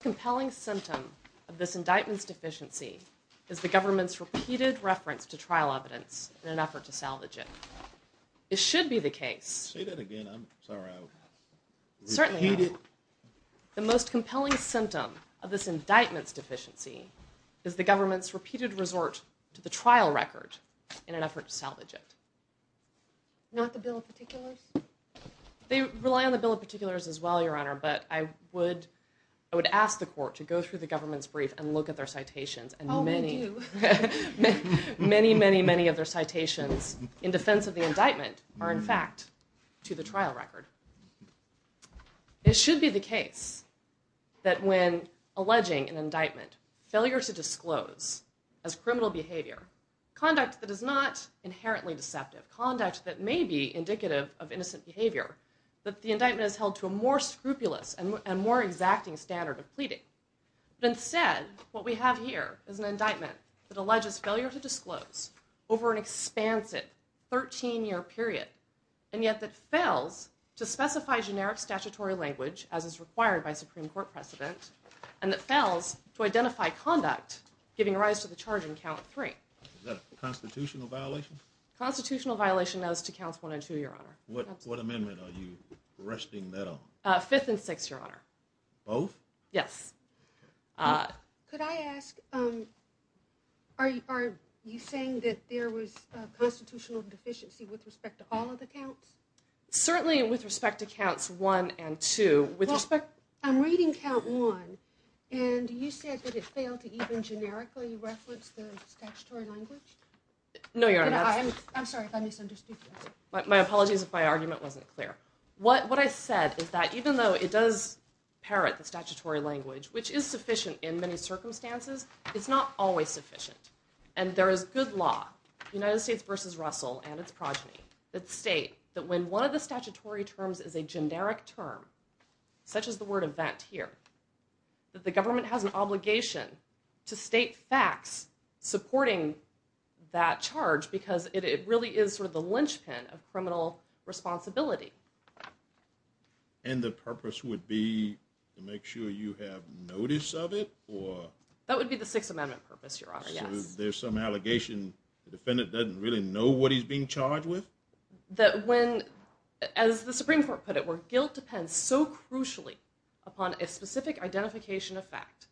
Compelling symptom of this indictments deficiency is the government's repeated reference to trial evidence in an effort to salvage it It should be the case The most compelling symptom of this indictments deficiency is the government's repeated resort to the trial record in an effort to salvage it Not the bill of particulars They rely on the bill of particulars as well your honor But I would I would ask the court to go through the government's brief and look at their citations and many Many many many of their citations in defense of the indictment are in fact to the trial record It should be the case That when alleging an indictment failure to disclose as criminal behavior Conduct that is not inherently deceptive conduct that may be indicative of innocent behavior That the indictment is held to a more scrupulous and more exacting standard of pleading Instead what we have here is an indictment that alleges failure to disclose over an expansive 13 year period and yet that fails to specify generic statutory language as is required by Supreme Court precedent and that To identify conduct giving rise to the charge in count three Constitutional violation those two counts one and two your honor. What amendment are you resting that on fifth and six your honor? Oh, yes Are you saying that there was a constitutional deficiency with respect to all of the counts Certainly with respect to counts one and two with respect. I'm reading count one and You said that it failed to even generically reference the statutory language No, your honor. I'm sorry if I misunderstood My apologies if my argument wasn't clear what what I said is that even though it does Parrot the statutory language which is sufficient in many circumstances It's not always sufficient And there is good law United States versus Russell and its progeny that state that when one of the statutory terms is a generic term Such as the word of that here That the government has an obligation to state facts Supporting that charge because it really is for the linchpin of criminal responsibility and The purpose would be to make sure you have notice of it or that would be the Sixth Amendment purpose your honor There's some allegation Defendant doesn't really know what he's being charged with that when as the Supreme Court put it were guilt depends So crucially upon a specific identification of fact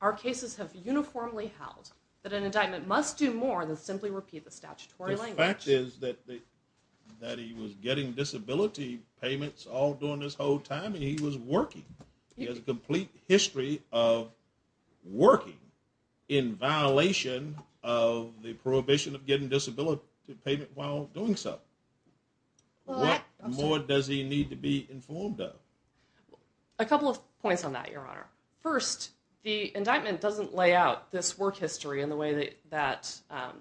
our cases have uniformly held But an indictment must do more than simply repeat the statutory language that is that That he was getting disability payments all during this whole time, and he was working. He has a complete history of working in violation of the prohibition of getting disability payment while doing so More does he need to be informed of a couple of points on that your honor first the indictment doesn't lay out this work history in the way that that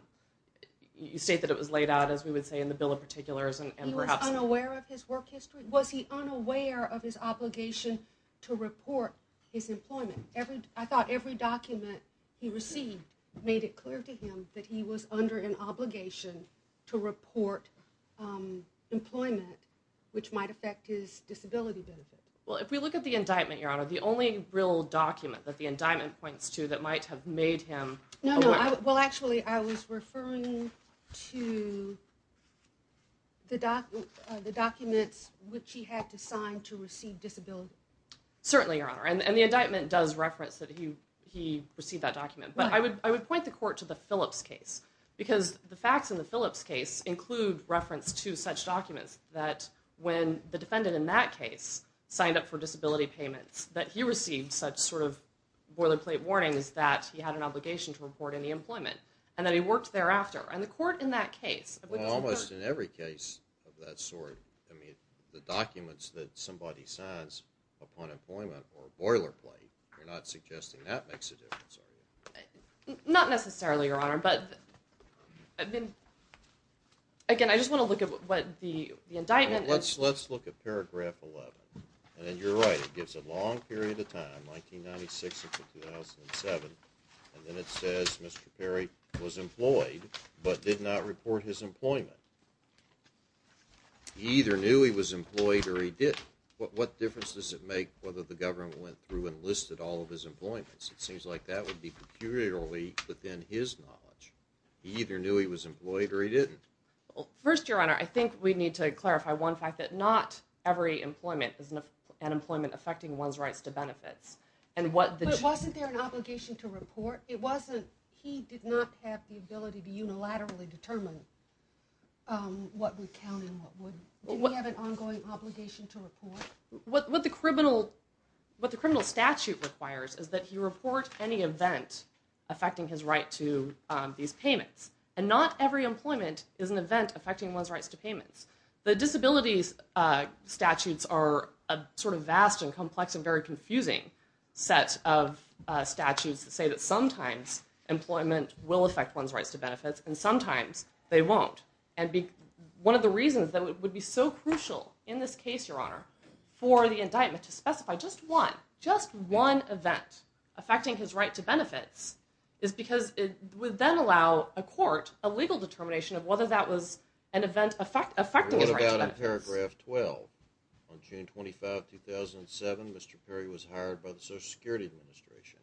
You state that it was laid out as we would say in the bill of particulars and perhaps unaware of his work history Was he unaware of his obligation to report his employment every I thought every document He received made it clear to him that he was under an obligation to report Employment which might affect his disability benefit well if we look at the indictment your honor the only real Document that the indictment points to that might have made him no well actually I was referring to The document the documents which he had to sign to receive disability Certainly your honor and the indictment does reference that he he received that document But I would I would point the court to the Phillips case Because the facts in the Phillips case include reference to such documents that when the defendant in that case Signed up for disability payments that he received such sort of Boilerplate warnings that he had an obligation to report any employment and that he worked thereafter and the court in that case Almost in every case of that sort I mean the documents that somebody signs Upon employment or boilerplate. We're not suggesting that makes a difference not necessarily your honor, but I've been Again, I just want to look at what the the indictment. Let's let's look at paragraph 11, and then you're right It gives a long period of time 1997 and then it says mr.. Perry was employed, but did not report his employment He either knew he was employed or he did what what difference does it make whether the government went through and listed all of his Employments it seems like that would be peculiarly within his knowledge He either knew he was employed or he didn't well first your honor I think we need to clarify one fact that not every employment is enough an employment affecting one's rights to benefits And what it wasn't there an obligation to report it wasn't he did not have the ability to unilaterally determine What would count? Have an ongoing obligation to report what the criminal What the criminal statute requires is that he report any event? Affecting his right to these payments and not every employment is an event affecting one's rights to payments the disabilities statutes are a sort of vast and complex and very confusing set of statutes that say that sometimes Employment will affect one's rights to benefits and sometimes they won't and be One of the reasons that it would be so crucial in this case your honor For the indictment to specify just one just one event affecting his right to benefits Is because it would then allow a court a legal determination of whether that was an event effect affecting paragraph 12 2007 mr.. Perry was hired by the Social Security Administration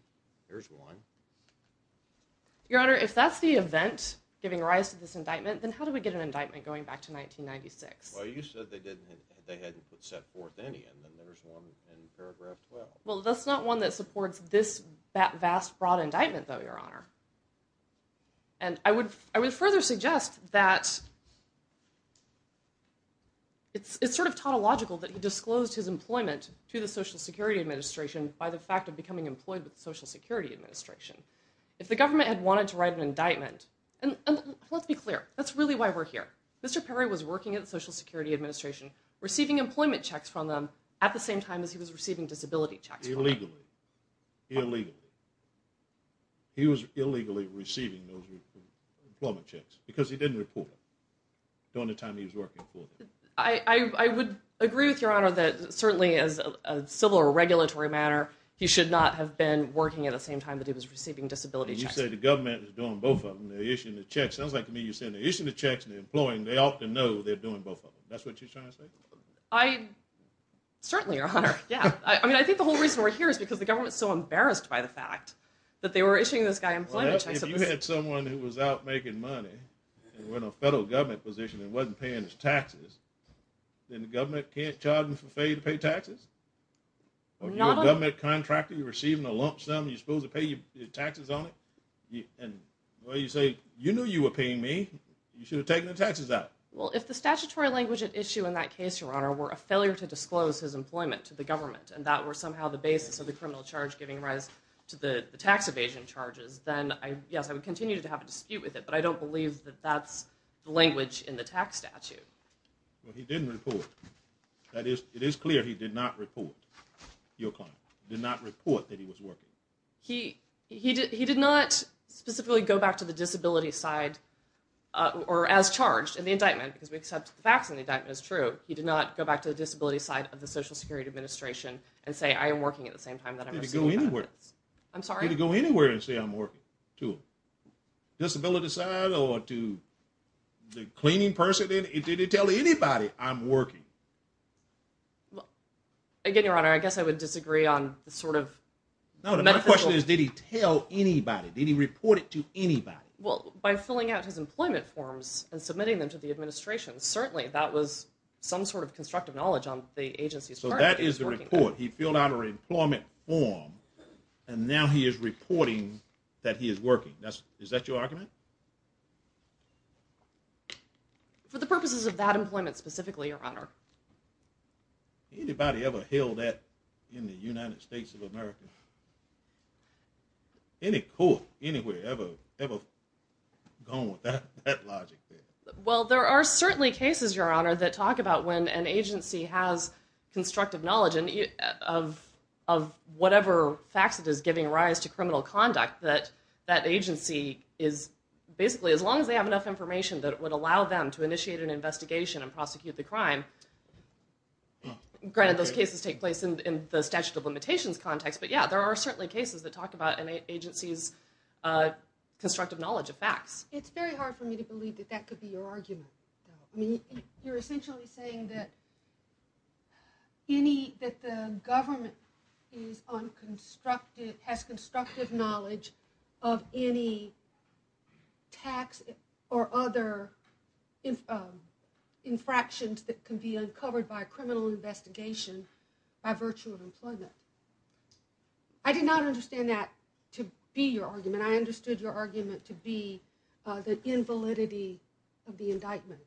There's one Your honor if that's the event giving rise to this indictment, then how do we get an indictment going back to 1996? Well that's not one that supports this vast broad indictment though your honor, and I would I would further suggest that It's it's sort of tautological that he disclosed his employment to the Social Security Administration by the fact of becoming employed with the Social Security Administration if the government had wanted to write an indictment and Let's be clear. That's really why we're here mr. Perry was working at the Social Security Administration Receiving employment checks from them at the same time as he was receiving disability checks illegally illegally He was illegally receiving those employment checks because he didn't report During the time he was working for I Would agree with your honor that certainly as a civil or regulatory manner He should not have been working at the same time that he was receiving disability You say the government is doing both of them the issue in the checks sounds like to me You're saying the issue the checks and employing they ought to know they're doing both of them. That's what you're trying to say I Certainly your honor yeah I mean I think the whole reason we're here is because the government's so embarrassed by the fact that they were issuing this guy Someone who was out making money When a federal government position it wasn't paying his taxes Then the government can't charge me for pay to pay taxes Not on that contractor you receiving a lump sum you supposed to pay you taxes on it Yeah, and well you say you knew you were paying me you should have taken the taxes out well If the statutory language at issue in that case your honor were a failure to disclose his employment to the government and that were somehow The basis of the criminal charge giving rise to the tax evasion charges, then I yes I would continue to have a dispute with it, but I don't believe that that's the language in the tax statute Well, he didn't report that is it is clear. He did not report Your car did not report that he was working. He he did not specifically go back to the disability side Or as charged in the indictment because we accept the facts in the indictment is true He did not go back to the disability side of the Social Security administration and say I am working at the same time that I'm Going anywhere. I'm sorry to go anywhere and say I'm working to disability side or to The cleaning person in it didn't tell anybody I'm working Again your honor, I guess I would disagree on the sort of Question is did he tell anybody did he report it to anybody well by filling out his employment forms and submitting them to the administration Certainly that was some sort of constructive knowledge on the agency's so that is the report he filled out her employment form and Now he is reporting that he is working. That's is that your argument For the purposes of that employment specifically your honor Anybody ever held that in the United States of America Any cool anywhere ever ever Go Well, there are certainly cases your honor that talk about when an agency has constructive knowledge and of whatever facts it is giving rise to criminal conduct that that agency is Basically as long as they have enough information that it would allow them to initiate an investigation and prosecute the crime Granted those cases take place in the statute of limitations context, but yeah, there are certainly cases that talk about an agency's Constructive knowledge of facts, it's very hard for me to believe that that could be your argument. I mean you're essentially saying that Any that the government is on constructed has constructive knowledge of any tax or other Infractions that can be uncovered by a criminal investigation by virtue of employment I Understand that to be your argument I understood your argument to be the invalidity of the indictment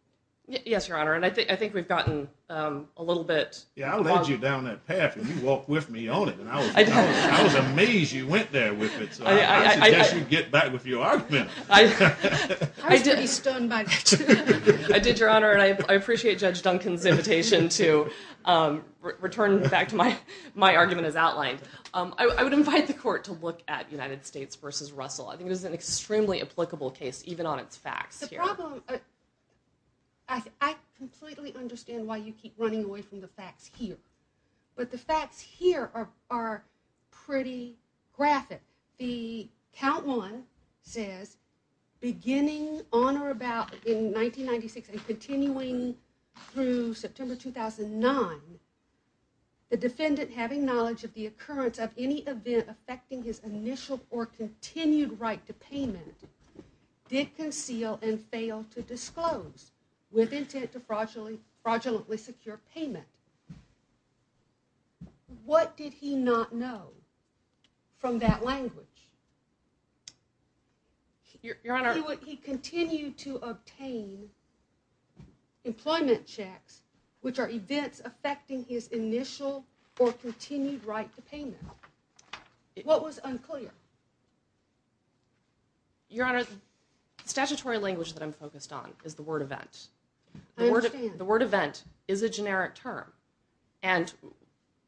Yes, your honor, and I think I think we've gotten a little bit Yeah, I'll let you down that path and you walk with me on it, and I was amazed you went there with it So I guess you get back with your argument. I Did your honor and I appreciate judge Duncan's invitation to Return back to my my argument is outlined. I would invite the court to look at United States versus Russell I think it is an extremely applicable case even on its facts Understand why you keep running away from the facts here, but the facts here are pretty graphic the count one says beginning on or about in 1996 and continuing through September 2009 The defendant having knowledge of the occurrence of any event affecting his initial or continued right to payment Did conceal and fail to disclose with intent to fraudulently fraudulently secure payment? What did he not know from that language Your honor what he continued to obtain Employment checks, which are events affecting his initial or continued right to payment What was unclear? Your honor statutory language that I'm focused on is the word event the word the word event is a generic term and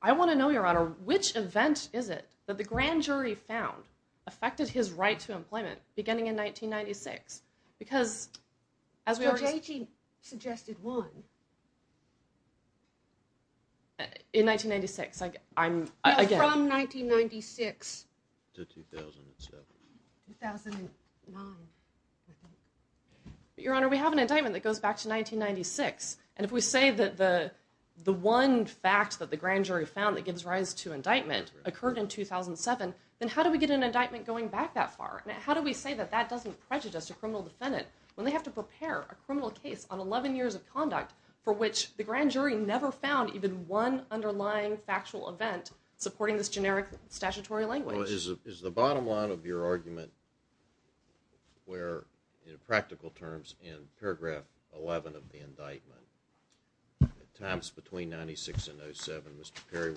I want to know your honor which event is it that the grand jury found? affected his right to employment beginning in 1996 because as Suggested one In 1996, I'm again from 1996 Your honor we have an indictment that goes back to 1996 and if we say that the The one fact that the grand jury found that gives rise to indictment occurred in 2007 Then how do we get an indictment going back that far? How do we say that that doesn't prejudice a criminal defendant when they have to prepare a criminal case on 11 years of conduct? For which the grand jury never found even one underlying factual event supporting this generic statutory language Is the bottom line of your argument? Where in practical terms in paragraph 11 of the indictment? At times between 96 and 07. Mr.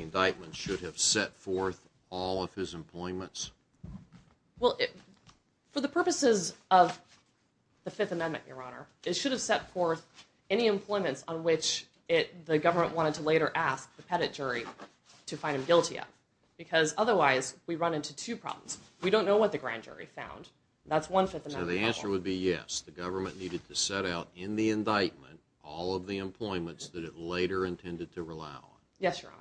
Indictment should have set forth all of his employments well for the purposes of The Fifth Amendment your honor it should have set forth any Employments on which it the government wanted to later ask the peddit jury to find him guilty yet Because otherwise we run into two problems. We don't know what the grand jury found. That's one fifth And the answer would be yes The government needed to set out in the indictment all of the employments that it later intended to rely on. Yes, your honor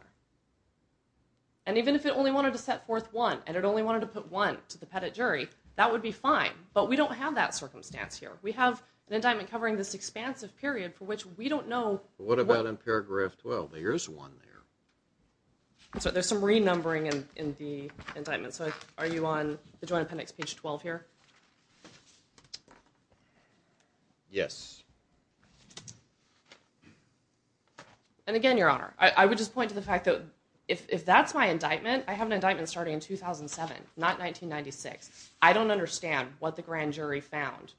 and Even if it only wanted to set forth one and it only wanted to put one to the peddit jury that would be fine But we don't have that circumstance here. We have an indictment covering this expansive period for which we don't know What about in paragraph 12? There's one there So there's some renumbering and in the indictment. So are you on the Joint Appendix page 12 here? Yes And Again your honor, I would just point to the fact that if that's my indictment. I have an indictment starting in 2007 not 1996 I don't understand what the grand jury found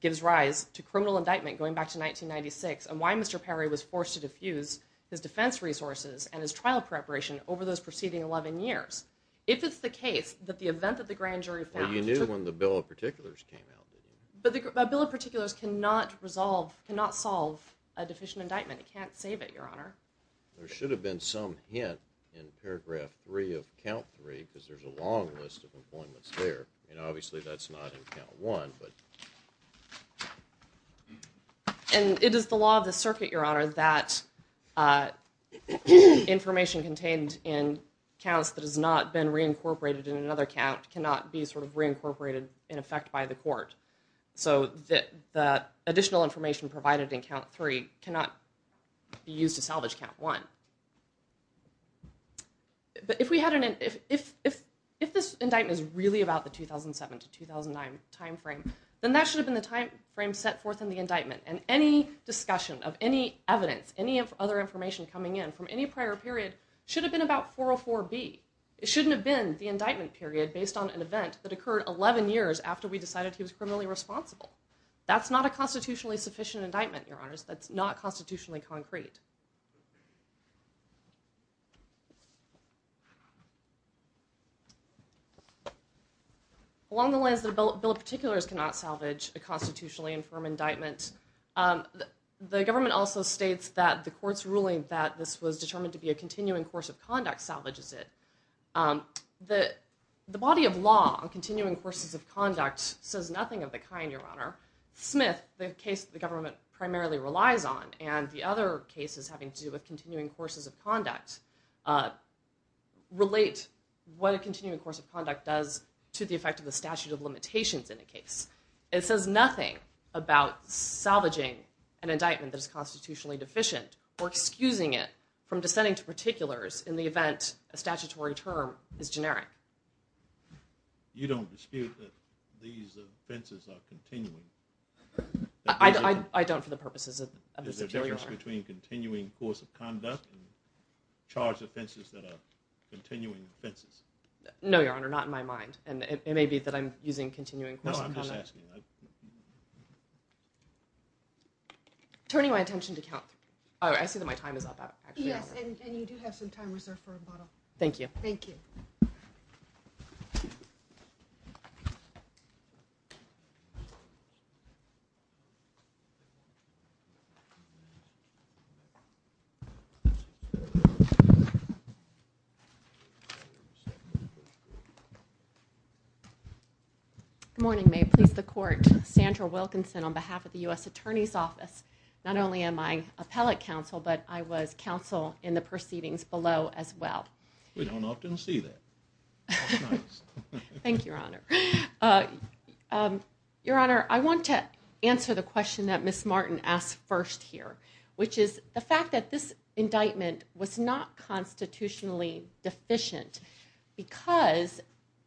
Gives rise to criminal indictment going back to 1996 and why mr. Perry was forced to diffuse his defense resources and his trial preparation over those preceding 11 years If it's the case that the event that the grand jury found you knew when the bill of particulars came out But bill of particulars cannot resolve cannot solve a deficient indictment. It can't save it your honor There should have been some hint in paragraph three of count three because there's a long list of appointments there you know, obviously that's not in count one, but And it is the law of the circuit your honor that Information contained in counts that has not been reincorporated in another count cannot be sort of reincorporated in effect by the court So that the additional information provided in count three cannot Be used to salvage count one But if we had an if if if if this indictment is really about the 2007 to 2009 timeframe then that should have been the time frame set forth in the indictment and any Discussion of any evidence any of other information coming in from any prior period should have been about 404 B It shouldn't have been the indictment period based on an event that occurred 11 years after we decided He was criminally responsible. That's not a constitutionally sufficient indictment your honors. That's not constitutionally concrete Along the lines the bill of particulars cannot salvage a constitutionally infirm indictment The government also states that the courts ruling that this was determined to be a continuing course of conduct salvages it The the body of law on continuing courses of conduct says nothing of the kind your honor Smith the case the government primarily relies on and the other cases having to do with continuing courses of conduct Relate what a continuing course of conduct does to the effect of the statute of limitations in a case it says nothing about salvaging an indictment that is constitutionally deficient or Excusing it from dissenting to particulars in the event a statutory term is generic You don't dispute that these offenses are continuing I don't for the purposes of between continuing course of conduct charge offenses that are Continuing offenses no your honor not in my mind, and it may be that I'm using continuing I'm just asking Turning my attention to count. Oh, I see that my time is up. Yes, and you do have some time reserved for a bottle Thank you. Thank you I Morning may please the court Sandra Wilkinson on behalf of the US Attorney's Office Not only am I appellate counsel, but I was counsel in the proceedings below as well. We don't often see that Thank you, your honor Your honor I want to answer the question that miss Martin asked first here Which is the fact that this indictment was not? constitutionally deficient because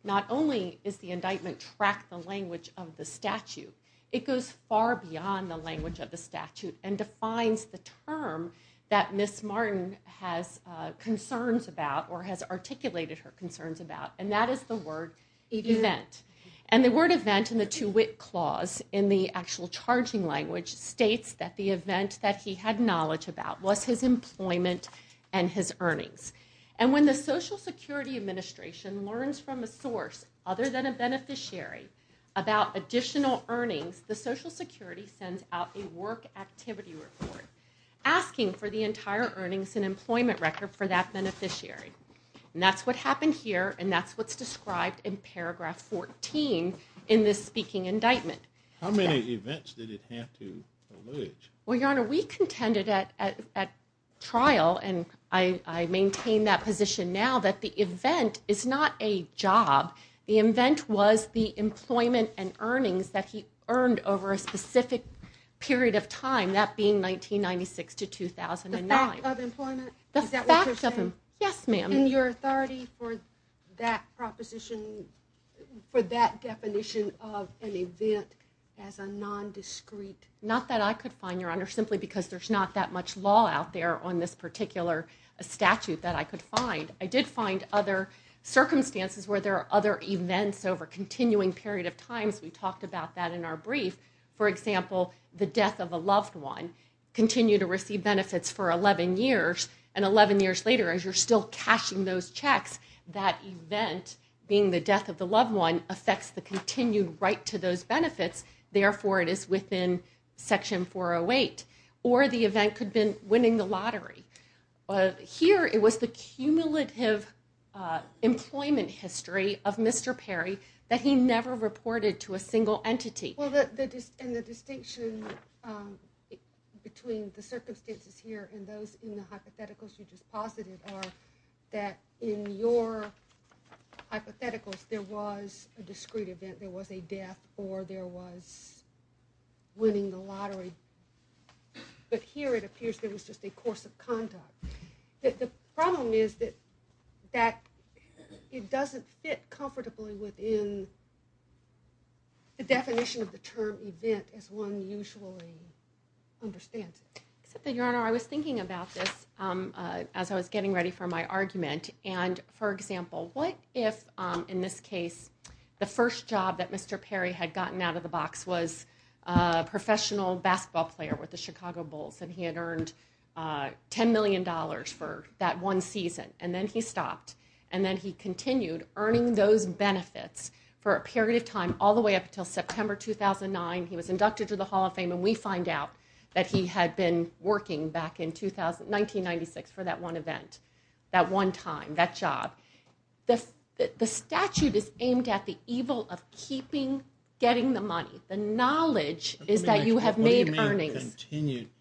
Not only is the indictment track the language of the statute it goes far beyond the language of the statute and defines the term that miss Martin has Concerns about or has articulated her concerns about and that is the word Event and the word event in the to wit clause in the actual charging language States that the event that he had knowledge about was his employment and his earnings and when the Social Security Administration learns from a source other than a beneficiary About additional earnings the Social Security sends out a work activity report Asking for the entire earnings and employment record for that beneficiary And that's what happened here, and that's what's described in paragraph 14 in this speaking indictment Well your honor we contended at at trial and I Maintain that position now that the event is not a job The event was the employment and earnings that he earned over a specific Period of time that being 1996 to 2009 Yes, ma'am in your authority for that proposition For that definition of an event as a non-discrete Not that I could find your honor simply because there's not that much law out there on this particular Statute that I could find I did find other Circumstances where there are other events over continuing period of times we talked about that in our brief for example the death of a loved one Continued to receive benefits for 11 years and 11 years later as you're still cashing those checks that event Being the death of the loved one affects the continued right to those benefits therefore it is within Section 408 or the event could been winning the lottery Here it was the cumulative Employment history of mr. Perry that he never reported to a single entity Between the circumstances here and those in the hypotheticals you just posited are that in your Hypotheticals there was a discreet event there was a death or there was winning the lottery But here it appears. There was just a course of conduct that the problem is that that It doesn't fit comfortably within The definition of the term event as one usually Understands that your honor. I was thinking about this As I was getting ready for my argument and for example what if in this case the first job that mr. Perry had gotten out of the box was a professional basketball player with the Chicago Bulls and he had earned Ten million dollars for that one season and then he stopped and then he continued earning those benefits For a period of time all the way up until September 2009 He was inducted to the Hall of Fame and we find out that he had been working back in 1996 for that one event that one time that job This the statute is aimed at the evil of keeping getting the money the knowledge is that you have made Continued to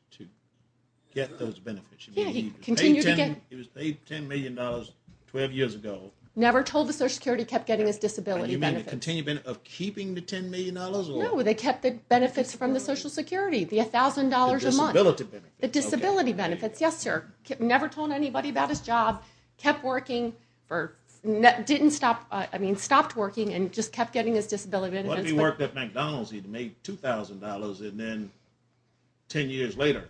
Get those benefits. Yeah, he continued again He was paid ten million dollars twelve years ago never told the Social Security kept getting his disability You mean to continue been of keeping the ten million dollars? No, they kept the benefits from the Social Security the $1,000 a month ability the disability benefits. Yes, sir Never told anybody about his job kept working for net didn't stop I mean stopped working and just kept getting his disability work that McDonald's he'd made $2,000 and then ten years later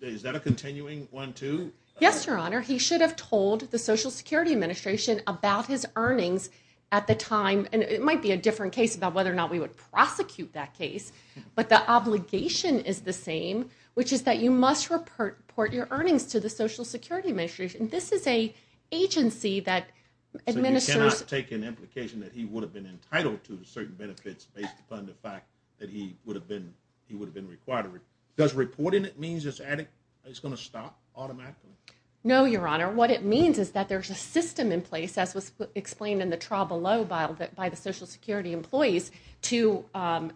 Is that a continuing one, too? Yes, your honor He should have told the Social Security Administration about his earnings at the time And it might be a different case about whether or not we would prosecute that case But the obligation is the same which is that you must report your earnings to the Social Security Administration this is a agency that Take an implication that he would have been entitled to certain benefits based upon the fact that he would have been he would have been Required does reporting it means it's attic. It's gonna stop automatically. No, your honor What it means is that there's a system in place as was explained in the trial below bile that by the Social Security employees to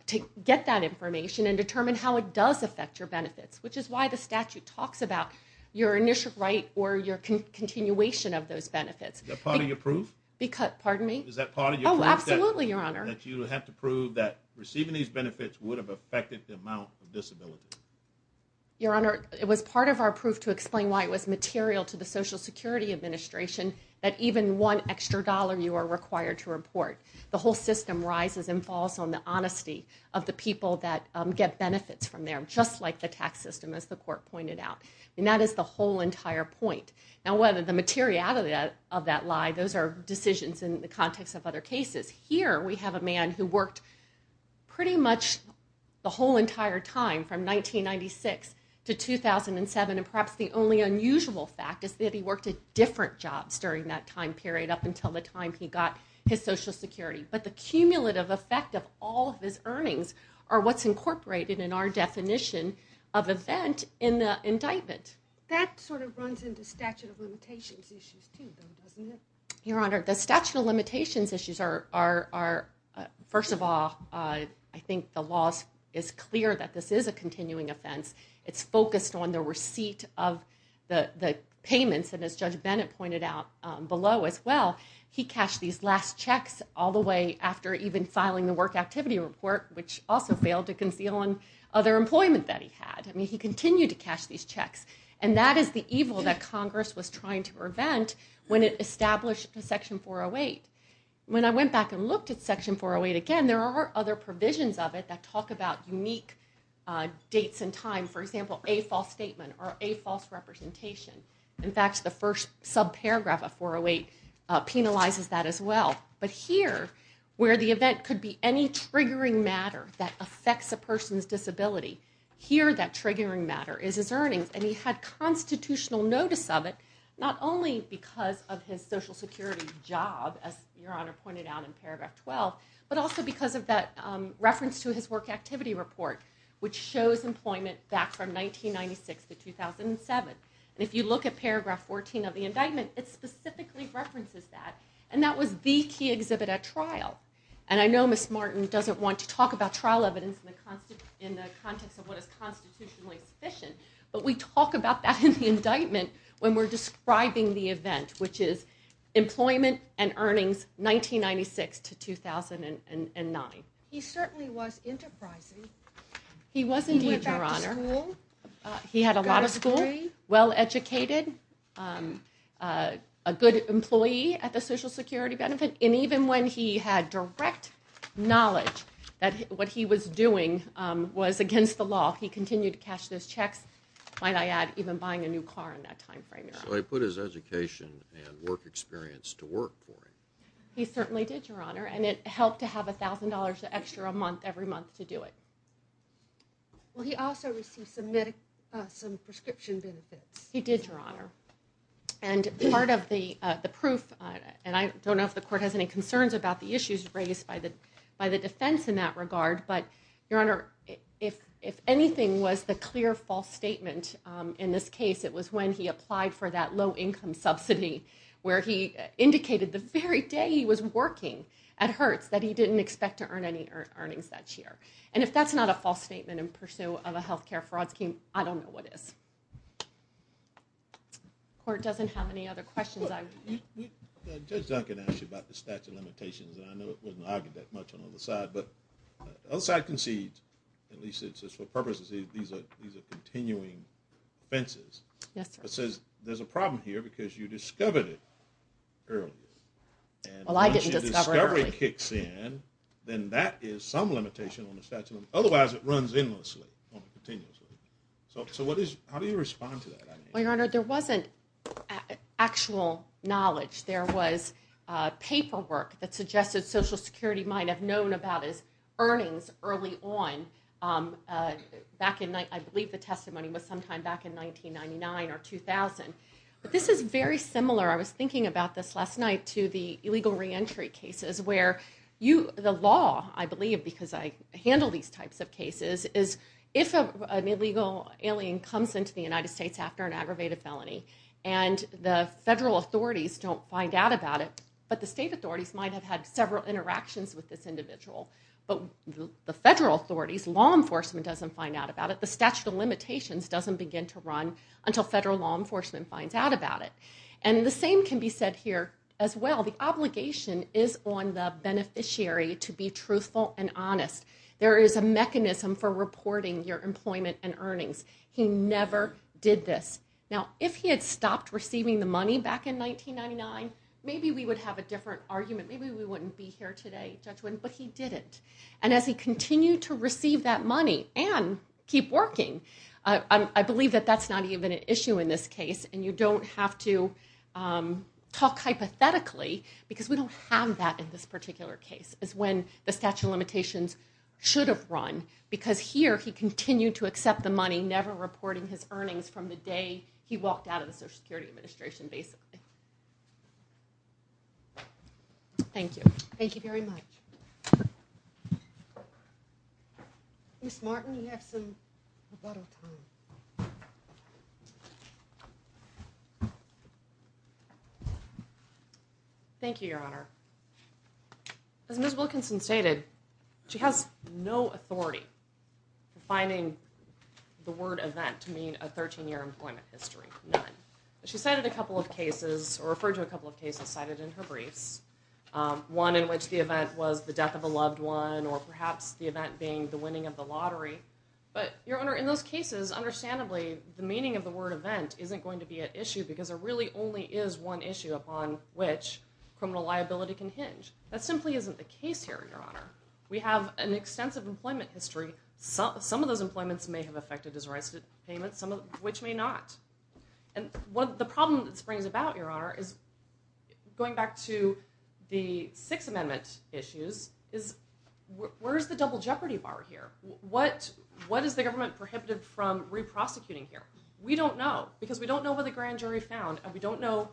Take get that information and determine how it does affect your benefits Which is why the statute talks about your initial right or your continuation of those benefits the party approved Because pardon me. Is that part of you? Absolutely, your honor that you have to prove that receiving these benefits would have affected the amount of disability Your honor. It was part of our proof to explain why it was material to the Social Security Administration That even one extra dollar you are required to report the whole system rises and falls on the honesty of the people that Get benefits from there just like the tax system as the court pointed out and that is the whole entire point Now whether the materiality of that lie, those are decisions in the context of other cases here. We have a man who worked pretty much the whole entire time from 1996 to 2007 and perhaps the only unusual fact is that he worked at different jobs during that time period up until the time he got his Social Security but the cumulative effect of all of his earnings are what's incorporated in our definition of Indictment Your honor the statute of limitations issues are First of all, I think the laws is clear that this is a continuing offense It's focused on the receipt of the the payments and as judge Bennett pointed out below as well He cashed these last checks all the way after even filing the work activity report Which also failed to conceal on other employment that he had I mean he continued to cash these checks and that is the evil that Congress was trying to prevent when it established a section 408 when I went back and looked at section 408 again, there are other provisions of it that talk about unique Dates and time for example a false statement or a false representation. In fact the first subparagraph of 408 Penalizes that as well But here where the event could be any triggering matter that affects a person's disability Here that triggering matter is his earnings and he had Constitutional notice of it not only because of his Social Security job as your honor pointed out in paragraph 12 but also because of that reference to his work activity report which shows employment back from 1996 to 2007 and if you look at paragraph 14 of the indictment It specifically references that and that was the key exhibit at trial And I know miss Martin doesn't want to talk about trial evidence in the constant in the context of what is constitutionally sufficient But we talk about that in the indictment when we're describing the event which is employment and earnings 1996 to 2009 he certainly was enterprising He was indeed your honor He had a lot of school well educated a Good employee at the Social Security benefit and even when he had direct Knowledge that what he was doing was against the law he continued to cash those checks Might I add even buying a new car in that time frame so I put his education and work experience to work He certainly did your honor and it helped to have a thousand dollars extra a month every month to do it Well he also received some medic some prescription benefits he did your honor and part of the the proof And I don't know if the court has any concerns about the issues raised by the by the defense in that regard But your honor if if anything was the clear false statement in this case It was when he applied for that low income subsidy where he indicated the very day He was working at Hertz that he didn't expect to earn any earnings that year And if that's not a false statement in pursuit of a health care fraud scheme. I don't know what is Court doesn't have any other questions Outside concedes at least it's just for purposes these are these are continuing Offenses yes, it says there's a problem here because you discovered it early Well I didn't discovery kicks in then that is some limitation on the statute otherwise it runs in So so what is how do you respond to that well your honor there wasn't actual knowledge there was Paperwork that suggested Social Security might have known about his earnings early on Back in night. I believe the testimony was sometime back in 1999 or 2000, but this is very similar I was thinking about this last night to the illegal reentry cases where you the law I believe because I handle these types of cases is if an illegal alien comes into the United States after an aggravated felony and The federal authorities don't find out about it, but the state authorities might have had several interactions with this individual But the federal authorities law enforcement doesn't find out about it the statute of limitations Doesn't begin to run until federal law enforcement finds out about it, and the same can be said here as well The obligation is on the beneficiary to be truthful and honest There is a mechanism for reporting your employment and earnings He never did this now if he had stopped receiving the money back in 1999. Maybe we would have a different argument Maybe we wouldn't be here today, but he didn't and as he continued to receive that money and keep working I believe that that's not even an issue in this case, and you don't have to Talk hypothetically because we don't have that in this particular case is when the statute of limitations Should have run because here he continued to accept the money never reporting his earnings from the day He walked out of the Social Security administration basically Thank you, thank you very much Miss Martin you have some Thank you your honor As Miss Wilkinson stated she has no authority finding The word event to mean a 13-year employment history none She cited a couple of cases or referred to a couple of cases cited in her briefs One in which the event was the death of a loved one or perhaps the event being the winning of the lottery But your honor in those cases Understandably the meaning of the word event isn't going to be an issue because there really only is one issue upon which Criminal liability can hinge that simply isn't the case here your honor. We have an extensive employment history so some of those employments may have affected his rights to payment some of which may not and what the problem that springs about your honor is Going back to the Sixth Amendment issues is Where's the double jeopardy bar here? What what is the government prohibited from re-prosecuting here? We don't know because we don't know what the grand jury found and we don't know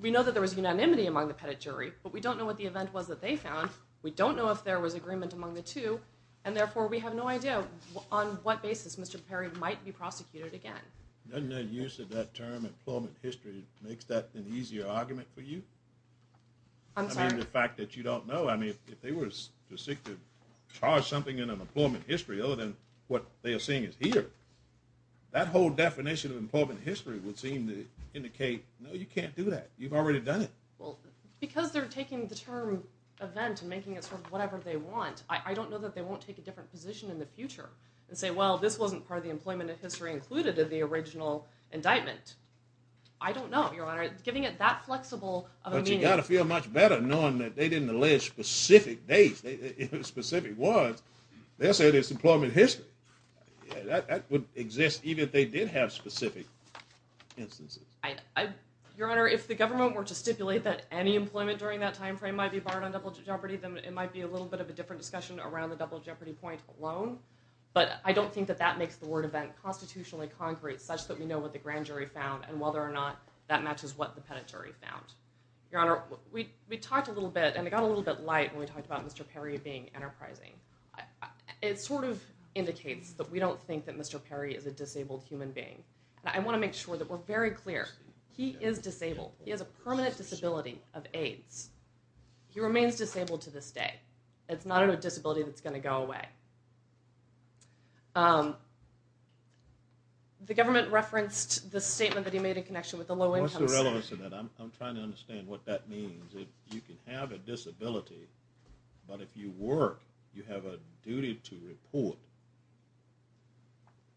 We know that there was unanimity among the pettit jury, but we don't know what the event was that they found We don't know if there was agreement among the two and therefore we have no idea on what basis mr. Perry might be prosecuted again Doesn't that use of that term employment history makes that an easier argument for you I'm sorry the fact that you don't know I mean if they were just sick to Charge something in an employment history other than what they are seeing is here That whole definition of employment history would seem to indicate. No you can't do that. You've already done it well because they're taking the term Event and making it sort of whatever they want I don't know that they won't take a different position in the future and say well This wasn't part of the employment of history included in the original indictment I don't know your honor giving it that flexible, but you gotta feel much better knowing that they didn't allege specific days Specific words they'll say this employment history That would exist even if they did have specific instances Your honor if the government were to stipulate that any employment during that time frame might be barred on double jeopardy Then it might be a little bit of a different discussion around the double jeopardy point alone But I don't think that that makes the word event Constitutionally concrete such that we know what the grand jury found and whether or not that matches what the penitentiary found Your honor we we talked a little bit, and it got a little bit light when we talked about mr.. Perry being enterprising It sort of indicates that we don't think that mr. Perry is a disabled human being and I want to make sure that we're very clear. He is disabled He has a permanent disability of AIDS He remains disabled to this day. It's not a disability. That's going to go away Um The government referenced the statement that he made in connection with the low-income I'm trying to understand what that means if you can have a disability But if you work you have a duty to report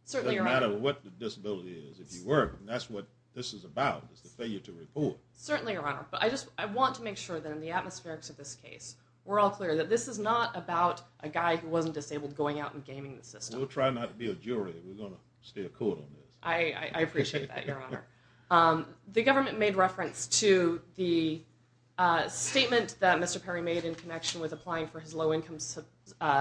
Certainly matter what the disability is if you work, and that's what this is about is the failure to report certainly your honor But I just I want to make sure that in the atmospherics of this case We're all clear that this is not about a guy who wasn't disabled going out and gaming the system We'll try not to be a jury. We're gonna stay cool. I Appreciate that your honor the government made reference to the Statement that mr. Perry made in connection with applying for his low-income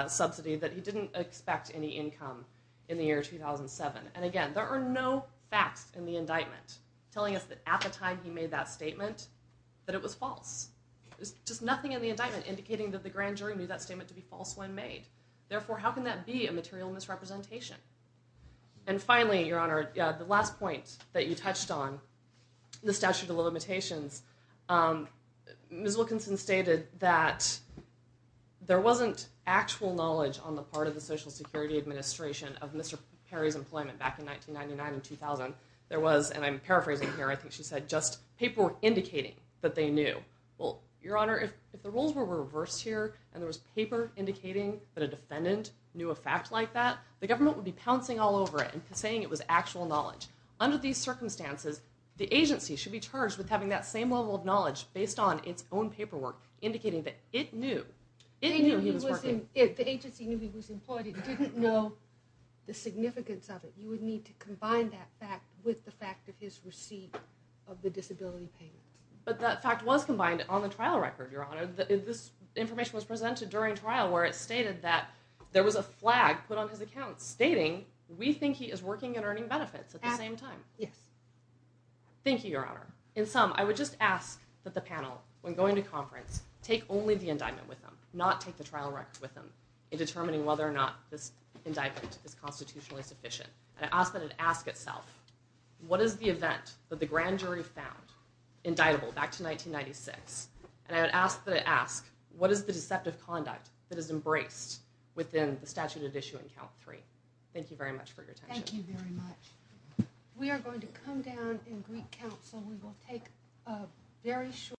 Subsidy that he didn't expect any income in the year 2007 and again There are no facts in the indictment telling us that at the time he made that statement that it was false There's just nothing in the indictment indicating that the grand jury knew that statement to be false when made therefore how can that be a material misrepresentation and Finally your honor the last point that you touched on the statute of limitations Ms. Wilkinson stated that There wasn't actual knowledge on the part of the Social Security Administration of mr. Perry's employment back in 1999 and 2000 there was and I'm paraphrasing here I think she said just paperwork indicating that they knew well your honor if the rules were reversed here And there was paper Indicating that a defendant knew a fact like that the government would be pouncing all over it and saying it was actual knowledge Under these circumstances the agency should be charged with having that same level of knowledge based on its own paperwork Indicating that it knew it The agency knew he was important didn't know The significance of it you would need to combine that fact with the fact of his receipt of the disability payment But that fact was combined on the trial record your honor that this Information was presented during trial where it stated that there was a flag put on his account stating We think he is working and earning benefits at the same time yes Thank you your honor in sum I would just ask that the panel when going to conference take only the indictment with them not take the trial record with them in Constitutionally sufficient, and I asked that it ask itself What is the event that the grand jury found? Indictable back to 1996 and I would ask that I ask what is the deceptive conduct that is embraced? Within the statute of issue in count three. Thank you very much for your time We are going to come down in Greek Council. We will take a very short